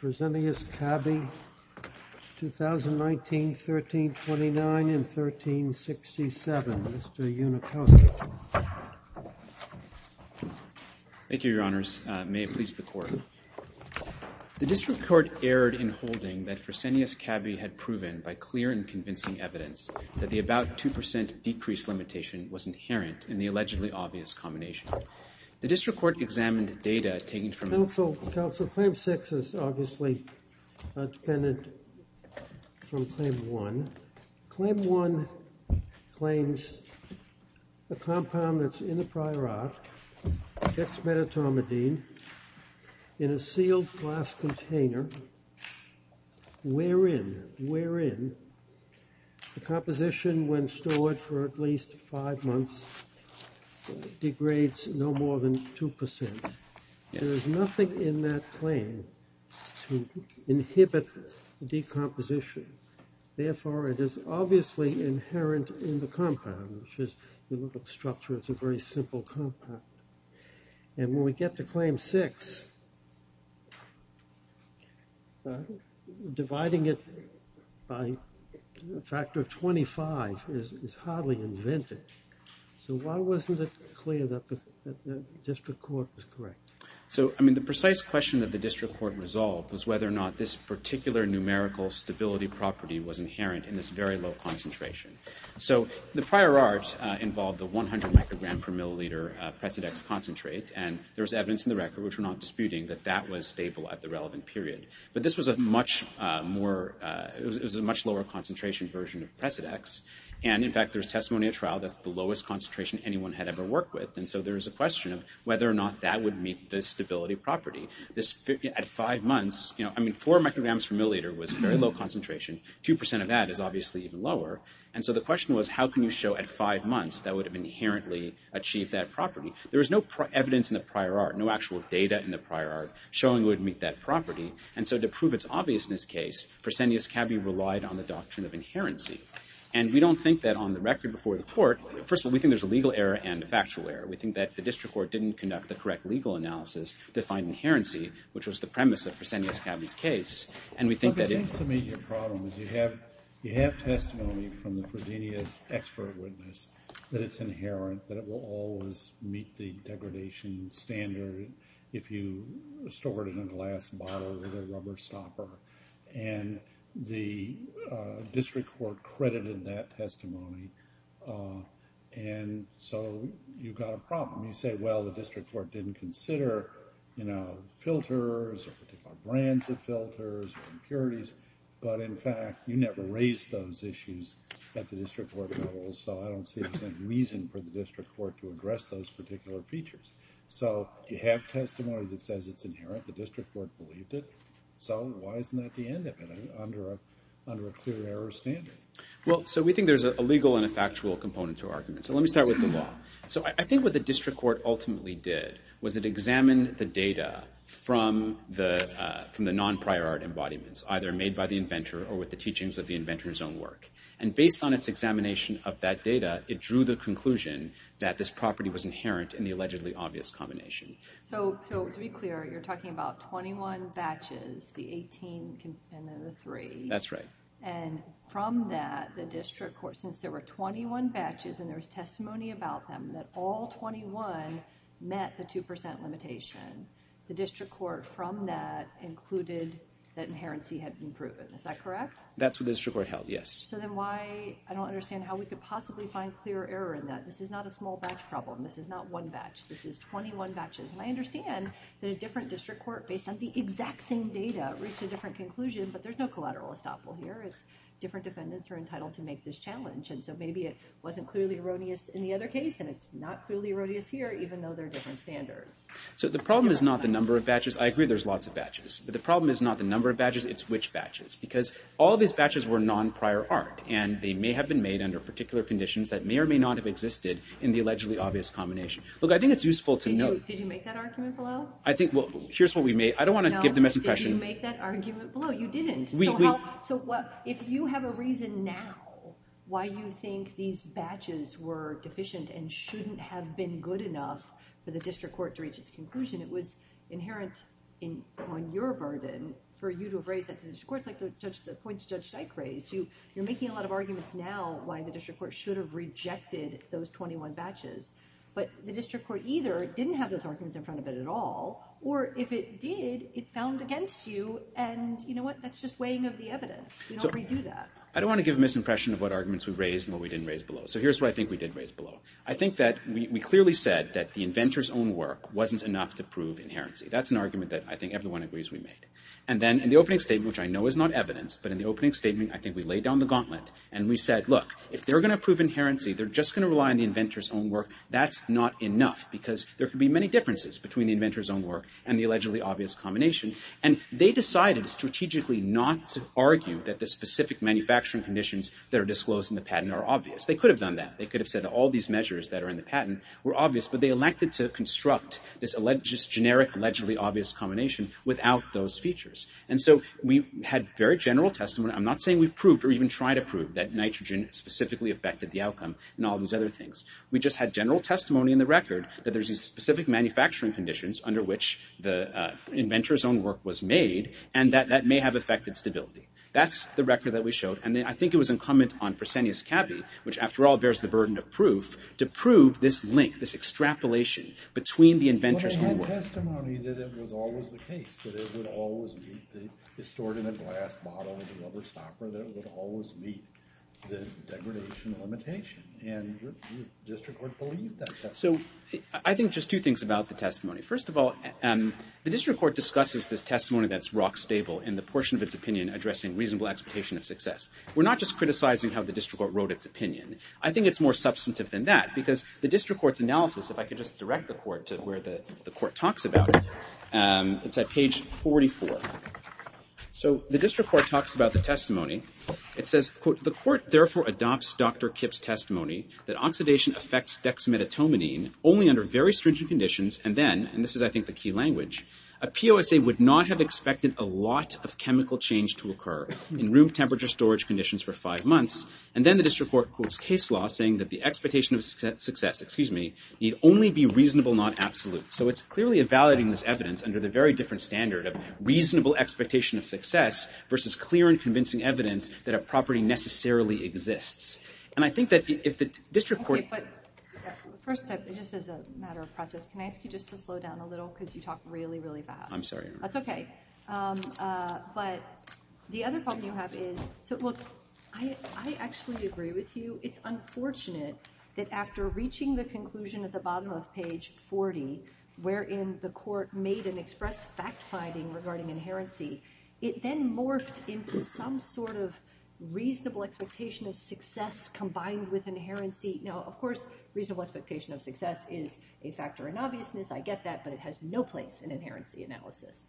Fresenius Kabi, 2019, 1329, and 1367. Mr. Unikowski. Thank you, Your Honors. May it please the Court. The District Court erred in holding that Fresenius Kabi had proven, by clear and convincing evidence, that the about 2% decrease limitation was inherent in the allegedly obvious combination. The District Court examined data taken from... Counsel, Counsel, Claim 6 is obviously not dependent from Claim 1. Claim 1 claims a compound that's in the prior art, dexmedetomidine, in a sealed glass container, wherein, wherein, the composition, when stored for at least five months, degrades no more than 2%. There is nothing in that claim to inhibit decomposition. Therefore, it is obviously inherent in the compound, which is, you look at the structure, it's a very simple compound. And when we get to Claim 6, dividing it by a factor of 25 is hardly invented. So why wasn't it clear that the District Court was correct? So, I mean, the precise question that the District Court resolved was whether or not this particular numerical stability property was inherent in this very low concentration. So, the prior art involved the 100 microgram per milliliter Presidex concentrate, and there was evidence in the record, which we're not disputing, that that was stable at the relevant period. But this was a much more, it was a much lower concentration version of Presidex. And, in fact, there's testimony at trial that's the lowest concentration anyone had ever worked with. And so there's a question of whether or not that would meet the stability property. At five months, you know, I mean, 4 micrograms per milliliter was a very low concentration. Two percent of that is obviously even lower. And so the question was, how can you show at five months that would have inherently achieved that property? There was no evidence in the prior art, no actual data in the prior art, showing it would meet that property. And so to prove its obviousness case, Fresenius-Cabey relied on the doctrine of inherency. And we don't think that on the record before the court, first of all, we think there's a legal error and a factual error. We think that the District Court didn't conduct the correct legal analysis to find inherency, which was the premise of Fresenius-Cabey's case. And we think that it… Well, it seems to me your problem is you have testimony from the Fresenius expert witness that it's inherent, that it will always meet the degradation standard if you stored it in a glass bottle with a rubber stopper. And the District Court credited that testimony. And so you've got a problem. You say, well, the District Court didn't consider, you know, filters or particular brands of filters or impurities. But in fact, you never raised those issues at the District Court level. So I don't see there's any reason for the District Court to address those particular features. So you have testimony that says it's inherent. The District Court believed it. So why isn't that the end of it under a clear error standard? Well, so we think there's a legal and a factual component to arguments. So let me start with the law. So I think what the District Court ultimately did was it examined the data from the non-prior art embodiments, either made by the inventor or with the teachings of the inventor's own work. And based on its examination of that data, it drew the conclusion that this property was inherent in the allegedly obvious combination. So to be clear, you're talking about 21 batches, the 18 and then the 3. That's right. And from that, the District Court, since there were 21 batches and there was testimony about them, that all 21 met the 2% limitation, the District Court, from that, included that inherency had been proven. Is that correct? That's what the District Court held, yes. So then why, I don't understand how we could possibly find clear error in that. This is not a small batch problem. This is not one batch. This is 21 batches. And I understand that a different District Court, based on the exact same data, reached a different conclusion, but there's no collateral estoppel here. It's different defendants are entitled to make this challenge. And so maybe it wasn't clearly erroneous in the other case, and it's not clearly erroneous here, even though there are different standards. So the problem is not the number of batches. I agree there's lots of batches. But the problem is not the number of batches, it's which batches. Because all of these batches were non-prior art, and they may have been made under particular conditions that may or may not have existed in the allegedly obvious combination. Look, I think it's useful to note. Did you make that argument below? I think, well, here's what we made. I don't want to give the misimpression. No, did you make that argument below? You didn't. So if you have a reason now why you think these batches were deficient and shouldn't have been good enough for the district court to reach its conclusion, it was inherent on your burden for you to have raised that to the district court. It's like the points Judge Steich raised. You're making a lot of arguments now why the district court should have rejected those 21 batches. But the district court either didn't have those arguments in front of it at all, or if it did, it found against you. And you know what? That's just weighing of the evidence. We don't redo that. I don't want to give a misimpression of what arguments we raised and what we didn't raise below. So here's what I think we did raise below. I think that we clearly said that the inventor's own work wasn't enough to prove inherency. That's an argument that I think everyone agrees we made. And then in the opening statement, which I know is not evidence, but in the opening statement I think we laid down the gauntlet and we said, look, if they're going to prove inherency, they're just going to rely on the inventor's own work. That's not enough, because there could be many differences between the inventor's own work and the allegedly obvious combination. And they decided strategically not to argue that the specific manufacturing conditions that are disclosed in the patent are obvious. They could have done that. They could have said all these measures that are in the patent were obvious, but they elected to construct this generic allegedly obvious combination without those features. And so we had very general testimony. I'm not saying we proved or even tried to prove that nitrogen specifically affected the outcome and all those other things. We just had general testimony in the record that there's these specific manufacturing conditions under which the inventor's own work was made and that that may have affected stability. That's the record that we showed. And I think it was incumbent on Fresenius Cabe, which after all bears the burden of proof, to prove this link, this extrapolation between the inventor's own work. But we had testimony that it was always the case that it would always be stored in a glass bottle with a rubber stopper, that it would always meet the degradation limitation. And the district court believed that testimony. So I think just two things about the testimony. First of all, the district court discusses this testimony that's rock stable in the portion of its opinion addressing reasonable expectation of success. We're not just criticizing how the district court wrote its opinion. I think it's more substantive than that because the district court's analysis, if I could just direct the court to where the court talks about it, it's at page 44. So the district court talks about the testimony. It says, quote, The court therefore adopts Dr. Kipp's testimony that oxidation affects dexmedetomidine only under very stringent conditions and then, and this is I think the key language, a POSA would not have expected a lot of chemical change to occur in room temperature storage conditions for five months. And then the district court quotes case law saying that the expectation of success, excuse me, need only be reasonable, not absolute. So it's clearly evaluating this evidence under the very different standard of reasonable expectation of success versus clear and convincing evidence that a property necessarily exists. And I think that if the district court... First step, just as a matter of process, can I ask you just to slow down a little because you talk really, really fast. I'm sorry. That's okay. But the other problem you have is, so look, I actually agree with you. It's unfortunate that after reaching the conclusion at the bottom of page 40 wherein the court made an express fact-finding regarding inherency, it then morphed into some sort of reasonable expectation of success combined with inherency. Now, of course, reasonable expectation of success is a factor in obviousness. I get that, but it has no place in inherency analysis.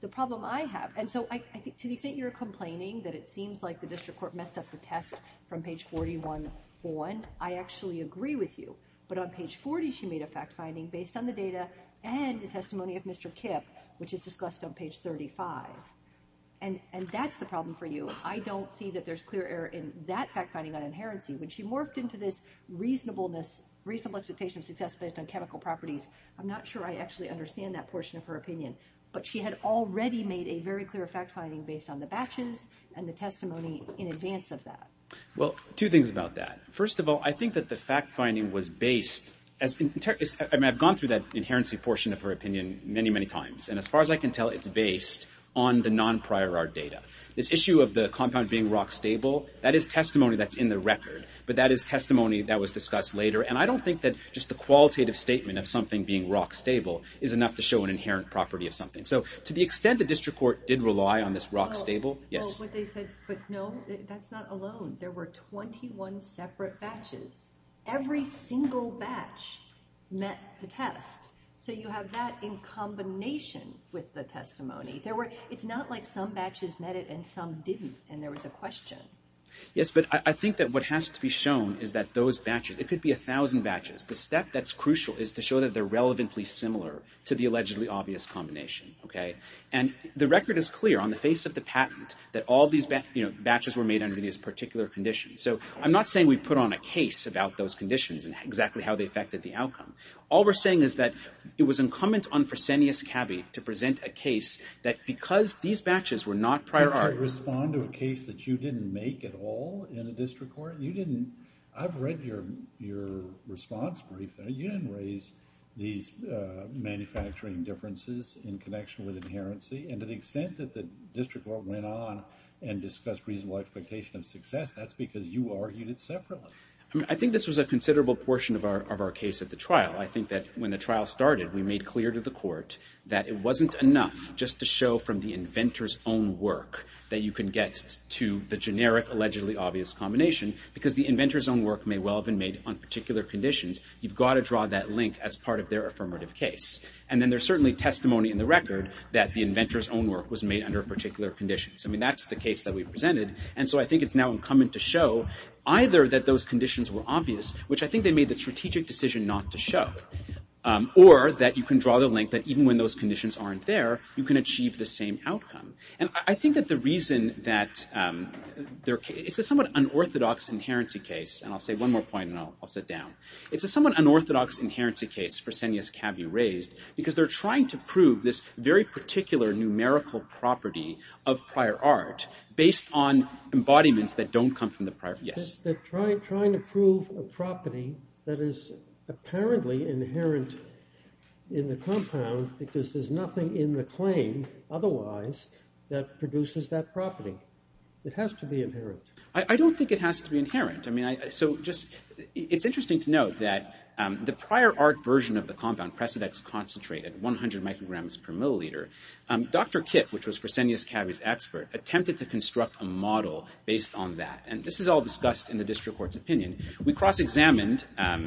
The problem I have... And so I think to the extent you're complaining that it seems like the district court messed up the test from page 41 on, I actually agree with you. But on page 40, she made a fact-finding based on the data and the testimony of Mr. Kipp, which is discussed on page 35. And that's the problem for you. I don't see that there's clear error in that fact-finding on inherency. When she morphed into this reasonableness, reasonable expectation of success based on chemical properties, I'm not sure I actually understand that portion of her opinion. But she had already made a very clear fact-finding based on the batches and the testimony in advance of that. Well, two things about that. First of all, I think that the fact-finding was based... I mean, I've gone through that inherency portion of her opinion many, many times. And as far as I can tell, it's based on the non-prior art data. This issue of the compound being rock-stable, that is testimony that's in the record. But that is testimony that was discussed later. And I don't think that just the qualitative statement of something being rock-stable is enough to show an inherent property of something. So to the extent the district court did rely on this rock-stable... Yes? But no, that's not alone. There were 21 separate batches. Every single batch met the test. So you have that in combination with the testimony. It's not like some batches met it and some didn't and there was a question. Yes, but I think that what has to be shown is that those batches... It could be a thousand batches. The step that's crucial is to show that they're relevantly similar to the allegedly obvious combination, okay? And the record is clear on the face of the patent that all these batches were made under these particular conditions. So I'm not saying we put on a case about those conditions and exactly how they affected the outcome. All we're saying is that it was incumbent on Fresenius Cabe to present a case that, because these batches were not prior art... Did you respond to a case that you didn't make at all in the district court? You didn't... I've read your response brief. You didn't raise these manufacturing differences in connection with inherency. And to the extent that the district court went on and discussed reasonable expectation of success, that's because you argued it separately. I think this was a considerable portion of our case at the trial. I think that when the trial started, we made clear to the court that it wasn't enough just to show that from the inventor's own work that you can get to the generic, allegedly obvious combination, because the inventor's own work may well have been made on particular conditions. You've got to draw that link as part of their affirmative case. And then there's certainly testimony in the record that the inventor's own work was made under particular conditions. I mean, that's the case that we presented. And so I think it's now incumbent to show either that those conditions were obvious, which I think they made the strategic decision not to show, or that you can draw the link that even when those conditions aren't there, you can achieve the same outcome. And I think that the reason that... It's a somewhat unorthodox inherency case, and I'll say one more point, and I'll sit down. It's a somewhat unorthodox inherency case for Senya's caveat raised, because they're trying to prove this very particular numerical property of prior art based on embodiments that don't come from the prior... Yes? They're trying to prove a property that is apparently inherent in the compound because there's nothing in the claim otherwise that produces that property. It has to be inherent. I don't think it has to be inherent. I mean, so just... It's interesting to note that the prior art version of the compound, Presidex Concentrate, at 100 micrograms per milliliter, Dr. Kipp, which was Fresenius Cavy's expert, attempted to construct a model based on that. And this is all discussed in the district court's opinion. We cross-examined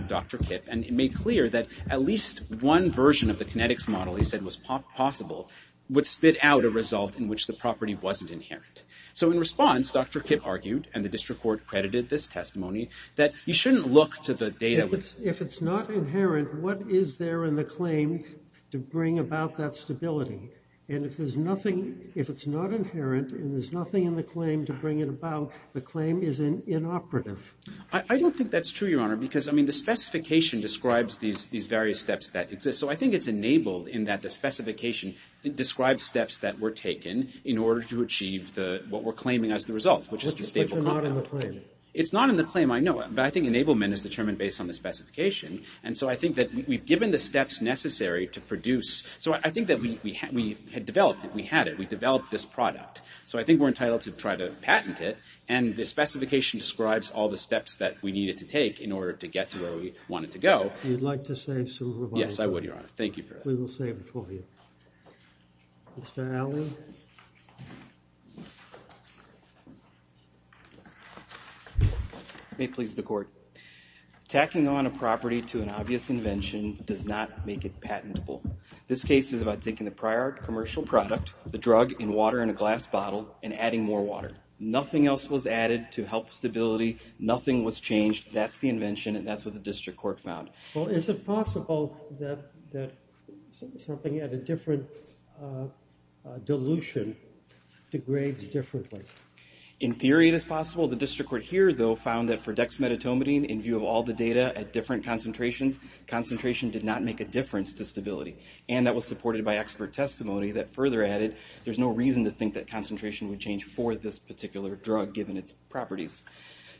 Dr. Kipp and it made clear that at least one version of the kinetics model he said was possible would spit out a result in which the property wasn't inherent. So in response, Dr. Kipp argued, and the district court credited this testimony, that you shouldn't look to the data... If it's not inherent, what is there in the claim to bring about that stability? And if there's nothing... If it's not inherent and there's nothing in the claim to bring it about, the claim is inoperative. I don't think that's true, Your Honor, because, I mean, the specification describes these various steps that exist. So I think it's enabled in that the specification describes steps that were taken in order to achieve what we're claiming as the result, which is the stable... But you're not in the claim. It's not in the claim, I know, but I think enablement is determined based on the specification. And so I think that we've given the steps necessary to produce... So I think that we had developed it. We had it. We developed this product. So I think we're entitled to try to patent it. And the specification describes all the steps that we needed to take in order to get to where we wanted to go. You'd like to say some revising? Yes, I would, Your Honor. Thank you for that. We will save it for you. Mr. Alley? May it please the Court. Tacking on a property to an obvious invention does not make it patentable. This case is about taking the prior commercial product, the drug in water in a glass bottle, and adding more water. Nothing else was added to help stability. Nothing was changed. That's the invention, and that's what the District Court found. Well, is it possible that something at a different dilution degrades differently? In theory, it is possible. The District Court here, though, found that for dexmedetomidine, in view of all the data at different concentrations, concentration did not make a difference to stability. And that was supported by expert testimony that further added there's no reason to think that concentration would change for this particular drug, given its properties.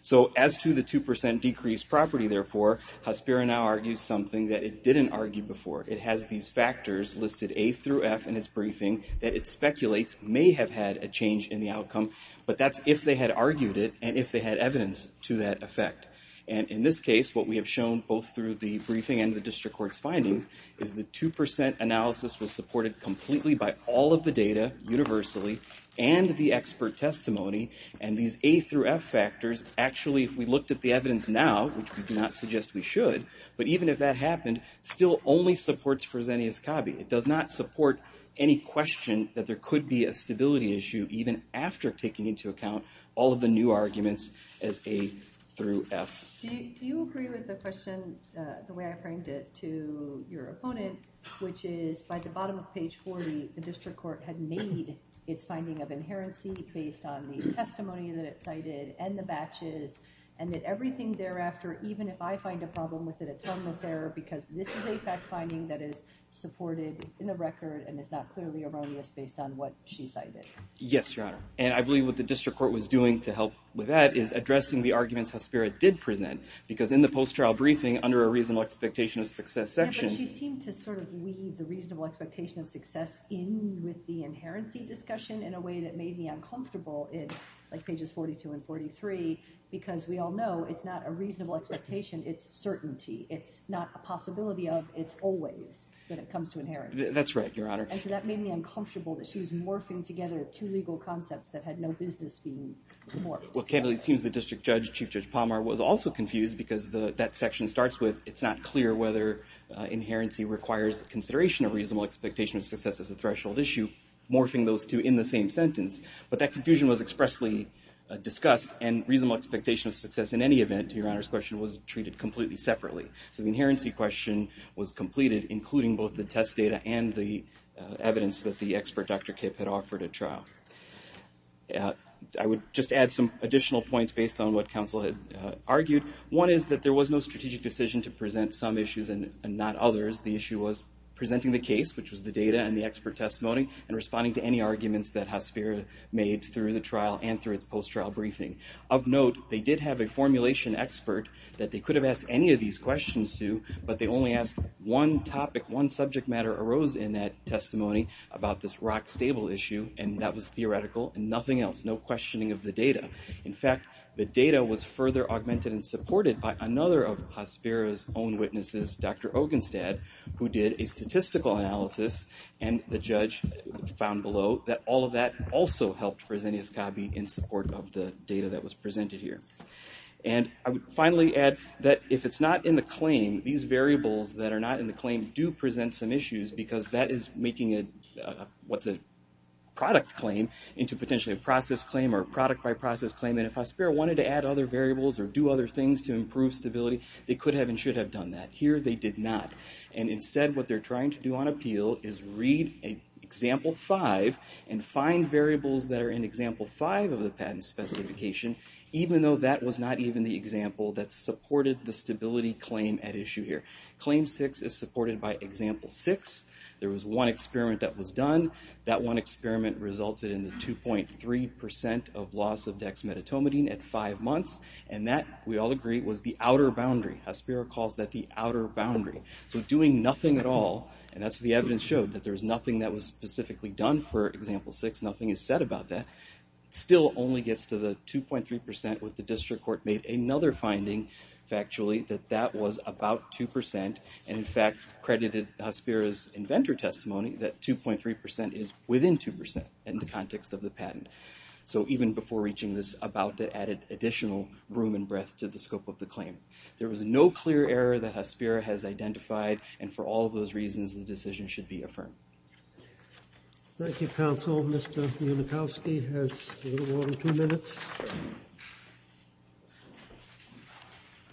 So, as to the 2% decrease property, therefore, Hospiro now argues something that it didn't argue before. It has these factors listed, A through F, in its briefing that it speculates may have had a change in the outcome, but that's if they had argued it and if they had evidence to that effect. And in this case, what we have shown both through the briefing and the District Court's findings is the 2% analysis was supported completely by all of the data universally and the expert testimony, and these A through F factors, actually, if we looked at the evidence now, which we do not suggest we should, but even if that happened, still only supports Fresenius-Cabe. It does not support any question that there could be a stability issue even after taking into account all of the new arguments as A through F. Do you agree with the question the way I framed it to your opponent, which is by the bottom of page 40, the District Court had made its finding of inherency based on the testimony that it cited and the batches, and that everything thereafter, even if I find a problem with it, it's harmless error because this is a fact-finding that is supported in the record and is not clearly erroneous based on what she cited? Yes, Your Honor. And I believe what the District Court was doing to help with that is addressing the arguments Hespera did present because in the post-trial briefing under a reasonable expectation of success section... Yeah, but she seemed to sort of weave the reasonable expectation of success in with the inherency discussion in a way that made me uncomfortable in pages 42 and 43 because we all know it's not a reasonable expectation, it's certainty. It's not a possibility of, it's always when it comes to inheritance. That's right, Your Honor. And so that made me uncomfortable that she was morphing together two legal concepts that had no business being morphed. Well, candidly, it seems the District Judge, Chief Judge Palmer, was also confused because that section starts with it's not clear whether inherency requires consideration of reasonable expectation of success as a threshold issue. Morphing those two in the same sentence. But that confusion was expressly discussed and reasonable expectation of success in any event, Your Honor's question, was treated completely separately. So the inherency question was completed including both the test data and the evidence that the expert, Dr. Kipp, had offered at trial. I would just add some additional points based on what counsel had argued. One is that there was no strategic decision to present some issues and not others. The issue was presenting the case, which was the data and the expert testimony and responding to any arguments that Hospira made through the trial and through its post-trial briefing. Of note, they did have a formulation expert that they could have asked any of these questions to, but they only asked one topic, one subject matter arose in that testimony about this Rock Stable issue and that was theoretical and nothing else. No questioning of the data. In fact, the data was further augmented and supported by another of Hospira's own witnesses, Dr. Ogenstad, who did a statistical analysis and the judge found below that all of that also helped Fresenius Cabe in support of the data that was presented here. I would finally add that if it's not in the claim, these variables that are not in the claim do present some issues because that is making what's a product claim into potentially a process claim or product by process claim and if Hospira wanted to add other variables or do other things to improve stability, they could have and should have done that. Here, they did not and instead, what they're trying to do on appeal is read example five and find variables that are in example five of the patent specification even though that was not even the example that supported the stability claim at issue here. Claim six is supported by example six. There was one experiment that was done. That one experiment resulted in the 2.3% of loss of dexmedetomidine at five months and that, we all agree, was the outer boundary. Hospira calls that the outer boundary. Doing nothing at all and that's what the evidence showed that there's nothing that was specifically done for example six. Nothing is said about that. Still only gets to the 2.3% with the district court made another finding factually that that was about 2% and in fact, credited Hospira's inventor testimony that 2.3% is within 2% in the context of the patent. Even before reaching this about the added additional room and breath to the scope of the claim. There was no clear error that Hospira has identified and for all of those reasons the decision should be affirmed. Thank you counsel. Mr. Unikowski has a little more than two minutes.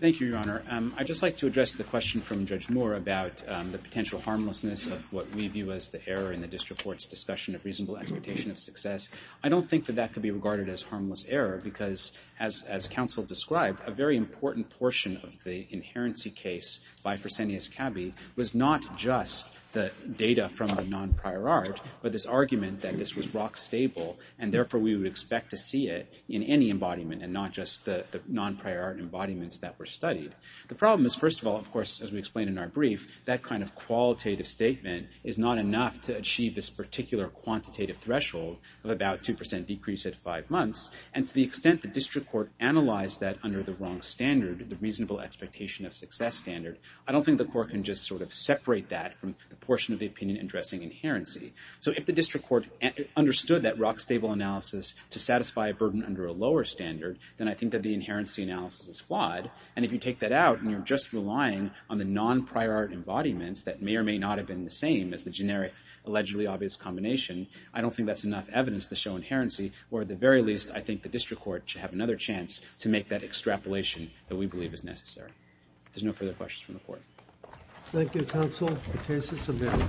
Thank you your honor. I'd just like to address the question from Judge Moore about the potential harmlessness of what we view as the error in the district court's discussion of reasonable expectation of success. I don't think that that could be regarded as harmless error because as counsel described, a very important portion of the inherency case by Fresenius Cabe was not just the data from the non-prior art but this argument that this was rock stable and therefore we would expect to see it in any embodiment and not just the non-prior art embodiments that were studied. The problem is first of all of course as we explained in our brief that kind of qualitative statement is not enough to achieve this particular quantitative threshold of about 2% decrease at five months and to the extent the district court analyzed that under the wrong standard the reasonable expectation of success standard I don't think the court can just sort of separate that from the portion of the opinion addressing inherency. So if the district court understood that rock stable analysis to satisfy a burden under a lower standard then I think that the inherency analysis is flawed and if you take that out and you're just relying on the non-prior art embodiments that may or may not have been the same as the generic allegedly obvious combination I don't think that's enough evidence to show inherency or at the very least I think the district court should have another chance to make that extrapolation that we believe is necessary. If there's no further questions from the court. Thank you counsel. The case is submitted.